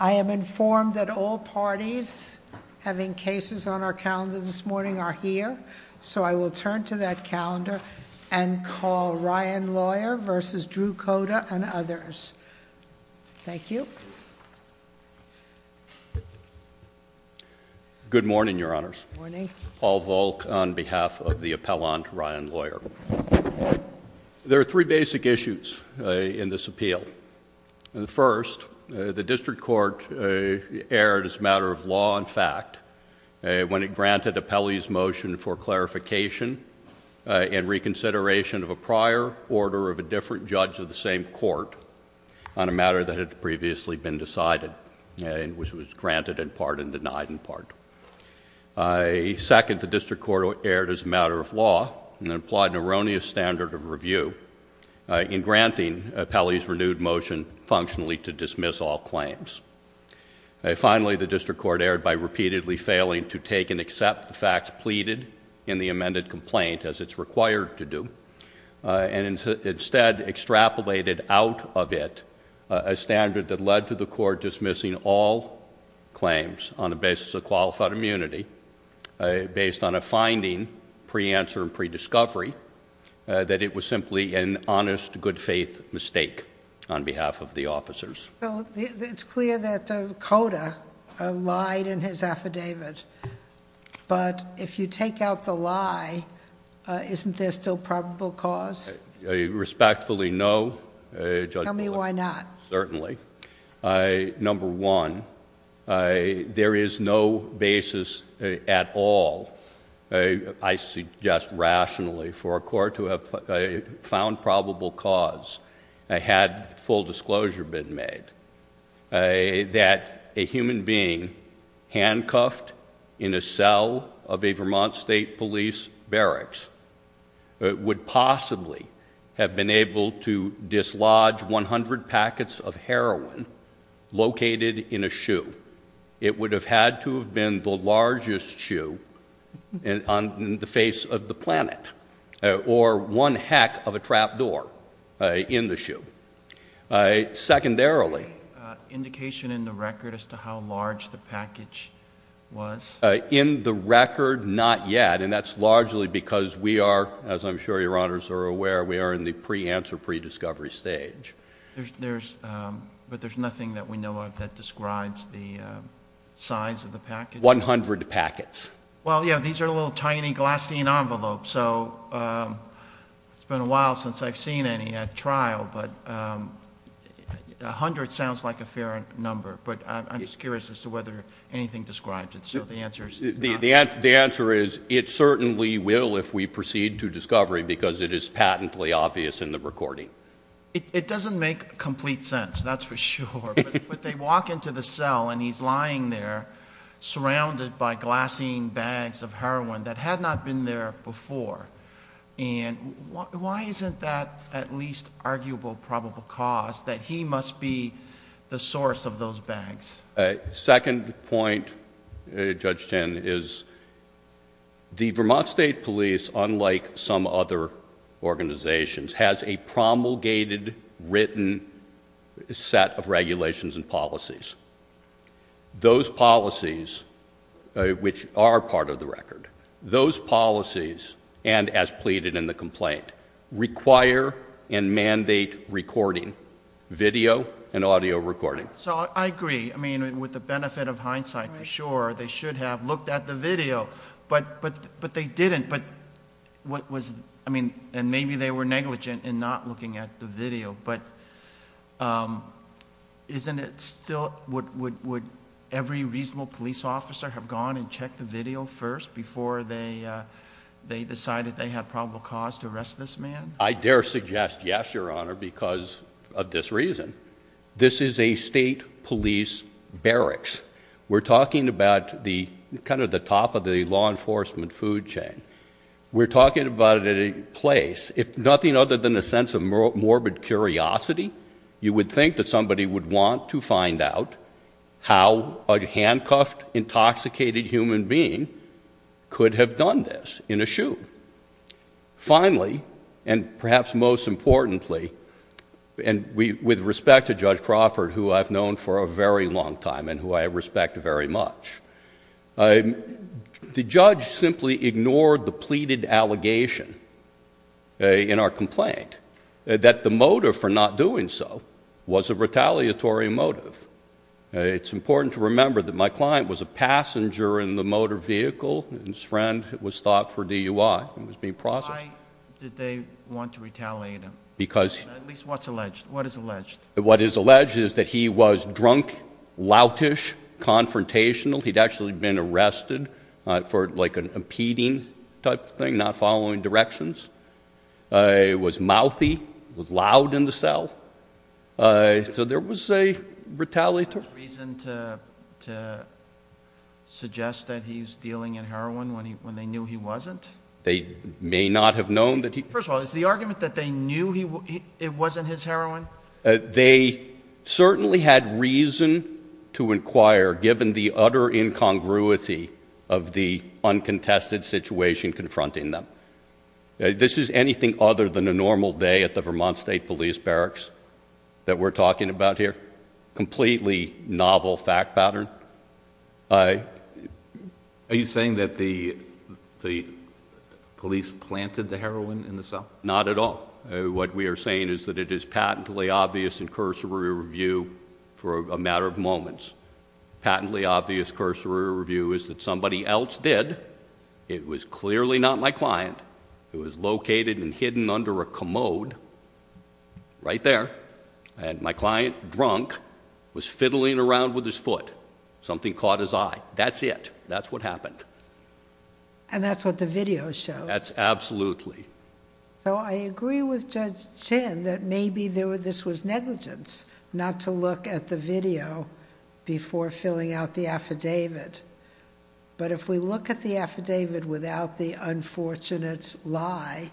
I am informed that all parties having cases on our calendar this morning are here, so I will turn to that calendar and call Ryan Lawyer v. Drew Cota and others. Thank you. Good morning, Your Honors. Good morning. Al Volk on behalf of the Appellant Ryan Lawyer. There are three basic issues in this appeal. The first, the District Court erred as a matter of law and fact when it granted Appellee's motion for clarification and reconsideration of a prior order of a different judge of the same court on a matter that had previously been decided and which was granted in part and denied in part. Second, the District Court erred as a matter of law and implied an erroneous standard of review in granting Appellee's renewed motion functionally to dismiss all claims. Finally, the District Court erred by repeatedly failing to take and accept the facts pleaded in the amended complaint as it's required to do and instead extrapolated out of it a standard that led to the court dismissing all claims on a basis of qualified immunity based on a finding pre-answer and pre-discovery that it was simply an honest, good faith mistake on behalf of the officers. It's clear that the coder lied in his affidavit, but if you take out the lie, isn't there still probable cause? Respectfully, no. Tell me why not. Certainly. Number one, there is no basis at all, I suggest rationally, for a court to have found probable cause had full disclosure been made that a human being handcuffed in a cell of a Vermont State Police barracks would possibly have been able to dislodge 100 packets of largest shoe on the face of the planet or one heck of a trap door in the shoe. Secondarily, indication in the record as to how large the package was? In the record, not yet, and that's largely because we are, as I'm sure Your Honors are aware, we are in the pre-answer, pre-discovery stage. But there's nothing that we can say about the size of the package. 100 packets. Well, yeah, these are little tiny glassine envelopes, so it's been a while since I've seen any at trial, but 100 sounds like a fair number, but I'm just curious as to whether anything describes it, so the answer is not. The answer is it certainly will if we proceed to discovery because it is patently obvious in the recording. It doesn't make complete sense, that's for sure, but they walk into the cell and he's lying there surrounded by glassine bags of heroin that had not been there before, and why isn't that at least arguable probable cause that he must be the source of those bags? Second point, Judge Chen, is the Vermont State Police, unlike some other organizations, has a promulgated written set of regulations and policies. Those policies, which are part of the record, those policies, and as pleaded in the complaint, require and mandate recording, video and audio recording. So I agree, I mean, with the benefit of hindsight for sure, they should have looked at the video, but they didn't, but what was, I mean, and maybe they were negligent in not looking at the video, but isn't it still, would every reasonable police officer have gone and checked the video first before they decided they had probable cause to arrest this man? I dare suggest yes, Your Honor, because of this reason. This is a state police barracks. We're talking about the, kind of the top of the law enforcement food chain. We're talking about it at a place, if nothing other than a sense of morbid curiosity, you would think that somebody would want to find out how a handcuffed, intoxicated human being could have done this in a shoot. Finally, and perhaps most importantly, and with respect to Judge Crawford, who I've known for a very long time and who I respect very much, the judge simply ignored the pleaded allegation in our complaint, that the motive for not doing so was a retaliatory motive. It's important to remember that my client was a passenger in the motor vehicle, and his friend was stopped for DUI and was being processed. Why did they want to retaliate him? Because, at least what's alleged, what is loutish, confrontational. He'd actually been arrested for like an impeding type of thing, not following directions. He was mouthy, was loud in the cell. So there was a retaliatory motive. Is there reason to suggest that he's dealing in heroin when they knew he wasn't? They may not have known that he... First of all, is the argument that they knew it wasn't his heroin? They certainly had reason to inquire, given the utter incongruity of the uncontested situation confronting them. This is anything other than a normal day at the Vermont State Police barracks that we're talking about here. Completely novel fact pattern. Are you saying that the police planted the heroin in the cell? Not at all. What we are saying is that it is patently obvious in cursory review for a matter of moments. Patently obvious cursory review is that somebody else did. It was clearly not my client. It was located and hidden under a commode, right there, and my client, drunk, was fiddling around with his foot. Something caught his eye. That's it. That's what happened. And that's what the video shows? That's absolutely. So I agree with Judge Chin that maybe this was negligence, not to look at the video before filling out the affidavit. But if we look at the affidavit without the unfortunate lie,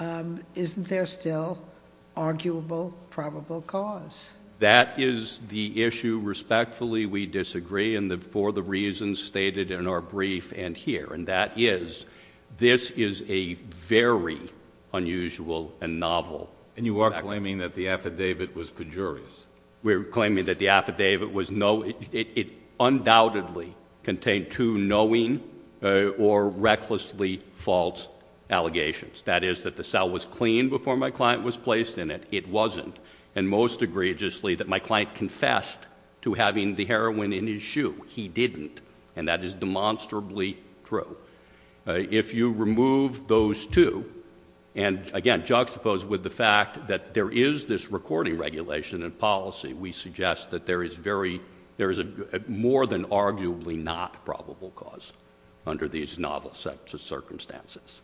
isn't there still arguable, probable cause? That is the issue. Respectfully, we are in our brief and here. And that is, this is a very unusual and novel fact. And you are claiming that the affidavit was pejorious? We're claiming that the affidavit was no, it undoubtedly contained two knowing or recklessly false allegations. That is, that the cell was clean before my client was placed in it. It wasn't. And most egregiously, that my client confessed to having the heroin in his shoe. He didn't. And that is demonstrably true. If you remove those two, and again, juxtapose with the fact that there is this recording regulation and policy, we suggest that there is very, there is a more than arguably not probable cause under these novel circumstances.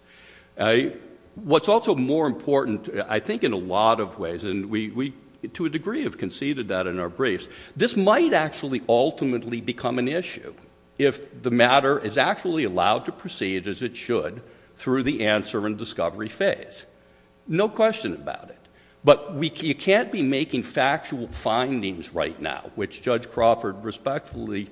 What's also more important, I think in a lot of ways, and we, to a degree, have conceded that in our briefs, this might actually ultimately become an issue if the matter is actually allowed to proceed as it should through the answer and discovery phase. No question about it. But we, you can't be making factual findings right now, which Judge Crawford respectfully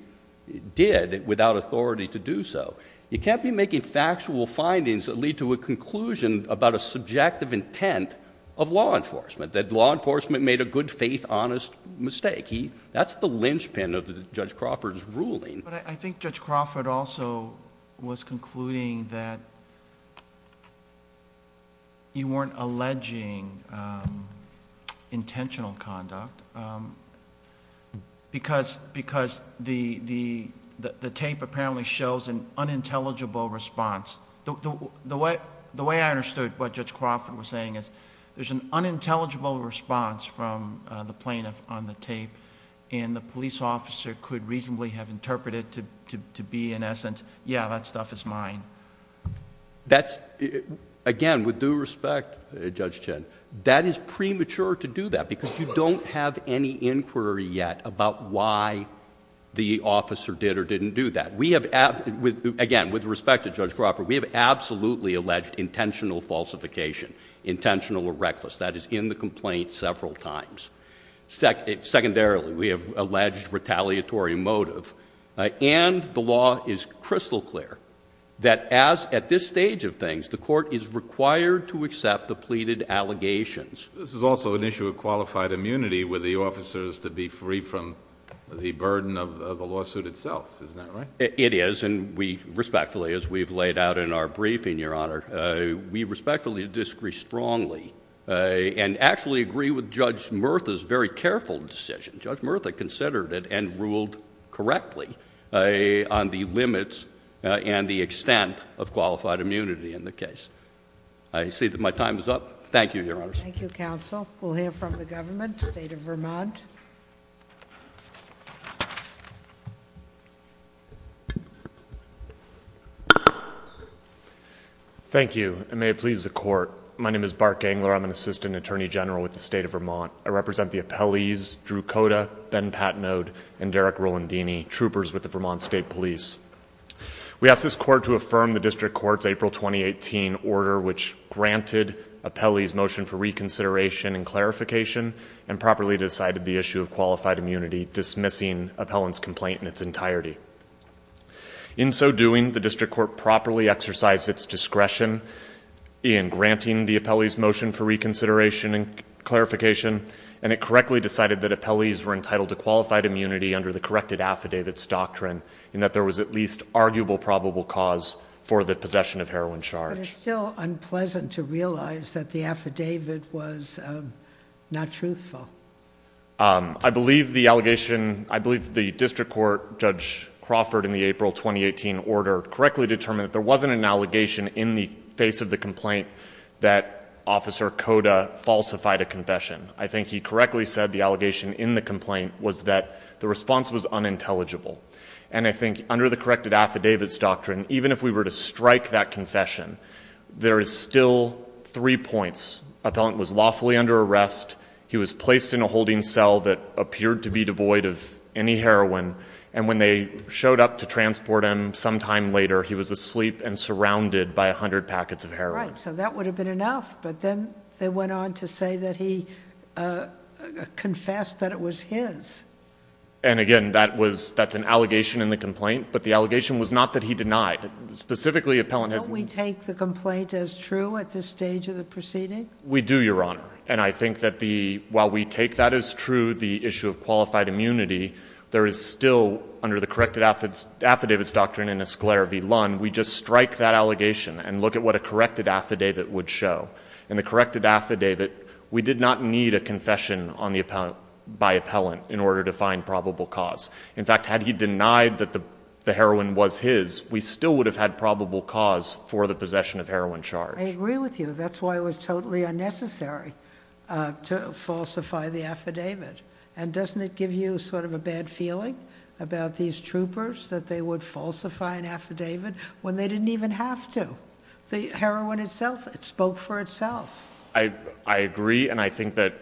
did without authority to do so. You can't be making factual findings that lead to a conclusion about a subjective intent of law enforcement, that law enforcement made a good-faith, honest mistake. That's the linchpin of Judge Crawford's ruling. But I think Judge Crawford also was concluding that you weren't alleging intentional conduct because the tape apparently shows an unintelligible response. The way I see it, unintelligible response from the plaintiff on the tape, and the police officer could reasonably have interpreted to be, in essence, yeah, that stuff is mine. That's... again, with due respect, Judge Chin, that is premature to do that because you don't have any inquiry yet about why the officer did or didn't do that. We have... again, with respect to Judge Crawford, we have absolutely alleged intentional falsification, intentional or reckless. That is in the complaint several times. Secondarily, we have alleged retaliatory motive. And the law is crystal clear that as at this stage of things, the Court is required to accept the pleaded allegations. This is also an issue of qualified immunity with the officers to be free from the burden of the lawsuit itself. Isn't that right? It is, and we respectfully, as we've laid out in our briefing, Your Honor, we respectfully disagree strongly and actually agree with Judge Murtha's very careful decision. Judge Murtha considered it and ruled correctly on the limits and the extent of qualified immunity in the case. I see that my time is up. Thank you, Your Honors. Thank you, counsel. We'll hear from the government. State of Vermont. Thank you, and may it please the Court. My name is Bart Gangler. I'm an Assistant Attorney General with the State of Vermont. I represent the Appellees, Drew Cota, Ben Patnode, and Derek Rolandini, troopers with the Vermont State Police. We ask this Court to affirm the District Court's April 2018 order which granted Appellee's motion for reconsideration and clarification and properly decided the issue of qualified immunity, dismissing Appellant's complaint in its entirety. In so doing, the District Court properly exercised its discretion in granting the Appellee's motion for reconsideration and clarification, and it correctly decided that Appellee's were entitled to qualified immunity under the corrected affidavits doctrine, and that there was at least arguable probable cause for the possession of heroin charge. But it's still unpleasant to realize that the affidavit was not truthful. I believe the allegation... I believe the District Court, Judge Crawford, in the April 2018 order correctly determined that there wasn't an allegation in the face of the complaint that Officer Cota falsified a confession. I think he correctly said the allegation in the complaint was that the response was unintelligible, and I think under the corrected affidavits doctrine, even if we were to strike that confession, there is still three points. Appellant was lawfully under arrest. He was placed in a holding cell that appeared to be devoid of any heroin, and when they showed up to transport him sometime later, he was asleep and surrounded by a hundred packets of heroin. Right. So that would have been enough, but then they went on to say that he confessed that it was his. And again, that was... that's an allegation in the complaint, but the specifically, Appellant has... Don't we take the complaint as true at this stage of the proceeding? We do, Your Honor. And I think that the... while we take that as true, the issue of qualified immunity, there is still, under the corrected affidavits doctrine in Escalier v. Lund, we just strike that allegation and look at what a corrected affidavit would show. In the corrected affidavit, we did not need a confession on the... by Appellant in order to find probable cause. In fact, had he denied that the heroin was his, we still would have had probable cause for the possession of heroin charge. I agree with you. That's why it was totally unnecessary to falsify the affidavit. And doesn't it give you sort of a bad feeling about these troopers that they would falsify an affidavit when they didn't even have to? The heroin itself, it spoke for itself. I agree, and I think that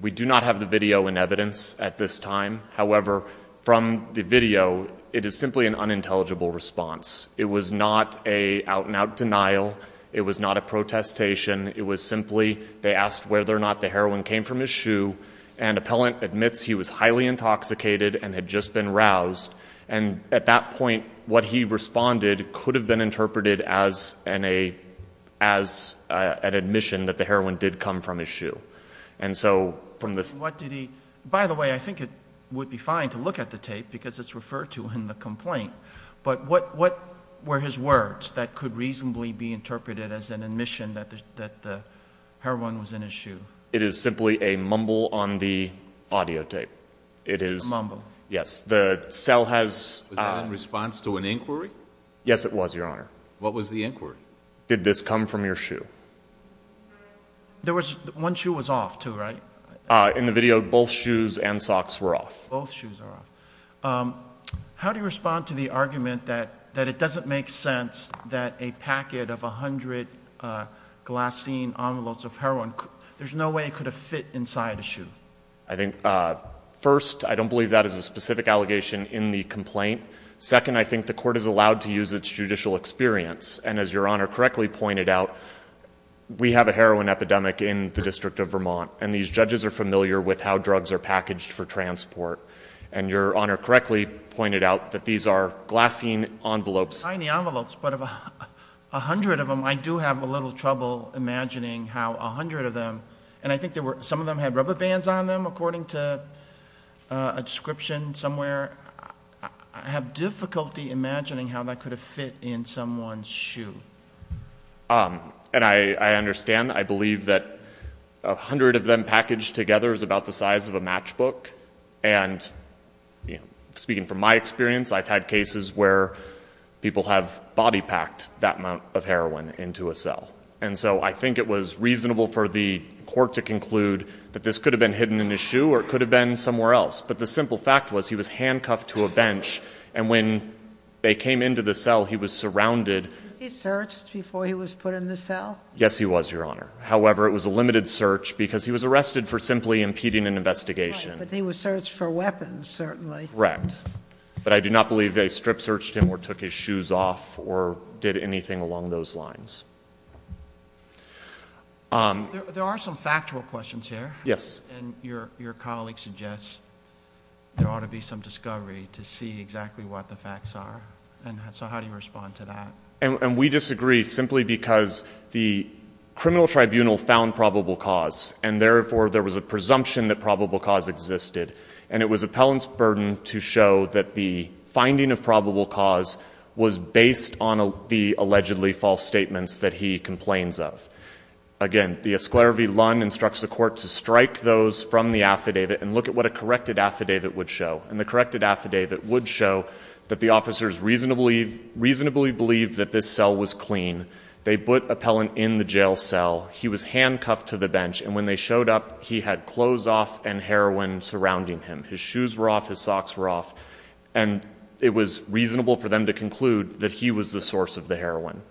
we do not have the video in evidence at this time. However, from the video, it is simply an unintelligible response. It was not a out-and-out denial. It was not a protestation. It was simply they asked whether or not the heroin came from his shoe, and Appellant admits he was highly intoxicated and had just been roused. And at that point, what he responded could have been interpreted as an admission that the heroin did come from his shoe. And so from the... It would be fine to look at the tape because it's referred to in the complaint. But what were his words that could reasonably be interpreted as an admission that the heroin was in his shoe? It is simply a mumble on the audio tape. It is... A mumble. Yes. The cell has... Was that in response to an inquiry? Yes, it was, Your Honor. What was the inquiry? Did this come from your shoe? There was... One shoe was off, too, right? In the video, both shoes and socks were off. Both shoes were off. How do you respond to the argument that it doesn't make sense that a packet of 100 glycine envelopes of heroin... There's no way it could have fit inside a shoe? I think, first, I don't believe that is a specific allegation in the complaint. Second, I think the Court is allowed to use its judicial experience. And as Your Honor correctly pointed out, we have a heroin epidemic in the District of Vermont, and these judges are familiar with how drugs are packaged for transport. And Your Honor correctly pointed out that these are glycine envelopes. Tiny envelopes, but of a hundred of them, I do have a little trouble imagining how a hundred of them... And I think some of them had rubber bands on them, according to a description somewhere. I have difficulty imagining how that could have fit in someone's shoe. And I understand. I believe that a hundred of them packaged together is about the size of a matchbook. And speaking from my experience, I've had cases where people have body-packed that amount of heroin into a cell. And so I think it was reasonable for the Court to conclude that this could have been hidden in his shoe, or it could have been somewhere else. But the simple fact was, he was handcuffed to a bench, and when they came into the cell, he was surrounded... Was he searched before he was put in the cell? Yes, he was, Your Honor. However, it was a limited search, because he was arrested for simply impeding an investigation. Right, but he was searched for weapons, certainly. Correct. But I do not believe they strip-searched him or took his shoes off or did anything along those lines. There are some factual questions here. Yes. And your colleague suggests there ought to be some discovery to see exactly what the facts are. So how do you respond to that? And we disagree, simply because the criminal tribunal found probable cause, and therefore there was a presumption that probable cause existed. And it was appellant's burden to show that the finding of probable cause was based on the allegedly false statements that he complains of. Again, the esclare vi lun instructs the Court to strike those from the affidavit and look at what a corrected affidavit would show. And the corrected affidavit would show that the officers reasonably believed that this cell was clean. They put appellant in the jail cell. He was handcuffed to the bench. And when they showed up, he had clothes off and heroin surrounding him. His shoes were off. His socks were off. And it was reasonable for them to conclude that he was the source of the heroin.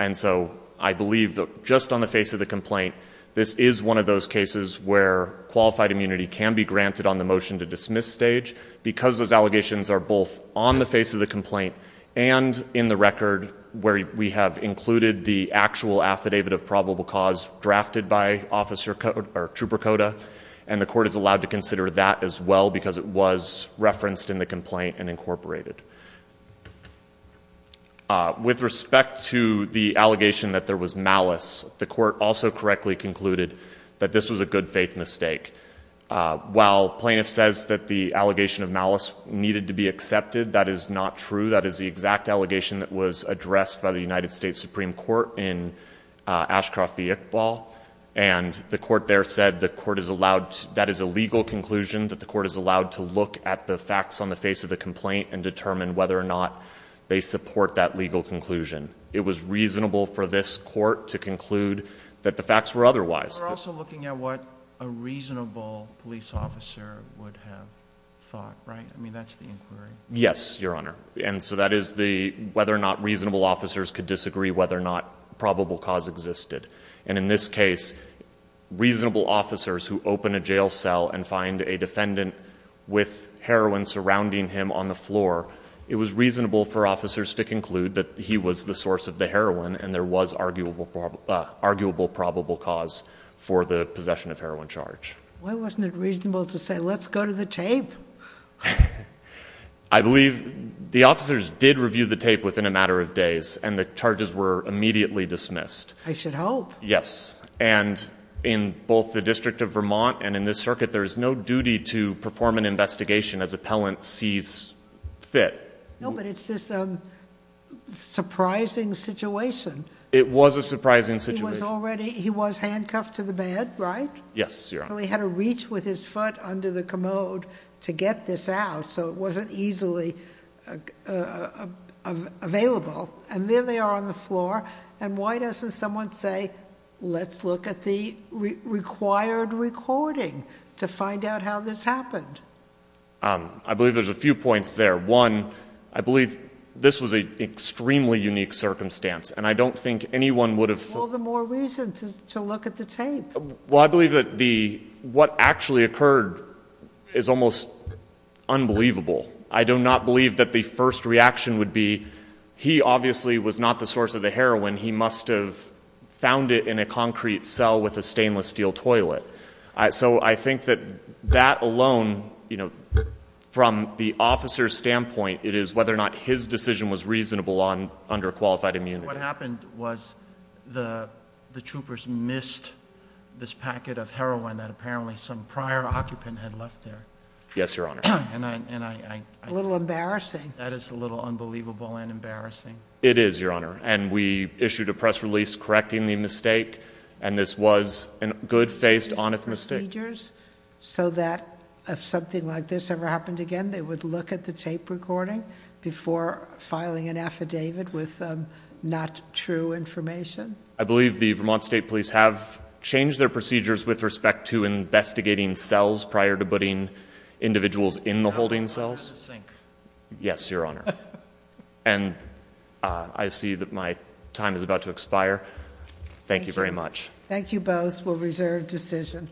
And so I believe that just on the face of the complaint, this is one of those cases where the motion to dismiss stage, because those allegations are both on the face of the complaint and in the record where we have included the actual affidavit of probable cause drafted by officer or trooper coda. And the court is allowed to consider that as well, because it was referenced in the complaint and incorporated. With respect to the allegation that there was malice, the court also correctly concluded that this was a good faith mistake. While plaintiff says that the allegation of malice needed to be accepted, that is not true. That is the exact allegation that was addressed by the United States Supreme Court in Ashcroft v. Iqbal. And the court there said the court is allowed, that is a legal conclusion, that the court is allowed to look at the facts on the face of the complaint and determine whether or not they support that legal conclusion. It was reasonable for this court to conclude that the facts were otherwise. We're also looking at what a reasonable police officer would have thought, right? I mean, that's the inquiry. Yes, Your Honor. And so that is the, whether or not reasonable officers could disagree whether or not probable cause existed. And in this case, reasonable officers who open a jail cell and find a defendant with heroin surrounding him on the floor, it was reasonable for officers to conclude that he was the source of the heroin and there was arguable probable cause. For the possession of heroin charge. Why wasn't it reasonable to say, let's go to the tape. I believe the officers did review the tape within a matter of days and the charges were immediately dismissed. I should hope. Yes. And in both the District of Vermont and in this circuit, there is no duty to perform an investigation as appellant sees fit. No, but it's this, um, surprising situation. It was a surprising situation. He was handcuffed to the bed, right? Yes, Your Honor. So he had to reach with his foot under the commode to get this out. So it wasn't easily available. And then they are on the floor. And why doesn't someone say, let's look at the required recording to find out how this happened? Um, I believe there's a few points there. One, I believe this was a extremely unique circumstance and I don't think anyone would have all the more reason to look at the tape. Well, I believe that the what actually occurred is almost unbelievable. I do not believe that the first reaction would be. He obviously was not the source of the heroin. He must have found it in a concrete cell with a stainless steel toilet. So I think that that alone, you know, from the officer's standpoint, it is whether or not his decision was reasonable on under qualified immunity. What happened was the troopers missed this packet of heroin that apparently some prior occupant had left there. Yes, Your Honor. And I'm a little embarrassing. That is a little unbelievable and embarrassing. It is, Your Honor. And we issued a press release correcting the mistake. And this was a good faced honest mistake. So that if something like this ever happened again, they would look at the tape recording before filing an affidavit with not true information. I believe the Vermont State Police have changed their procedures with respect to investigating cells prior to putting individuals in the holding cells. Yes, Your Honor. And I see that my time is about to expire. Thank you very much. Thank you. Both will reserve decision.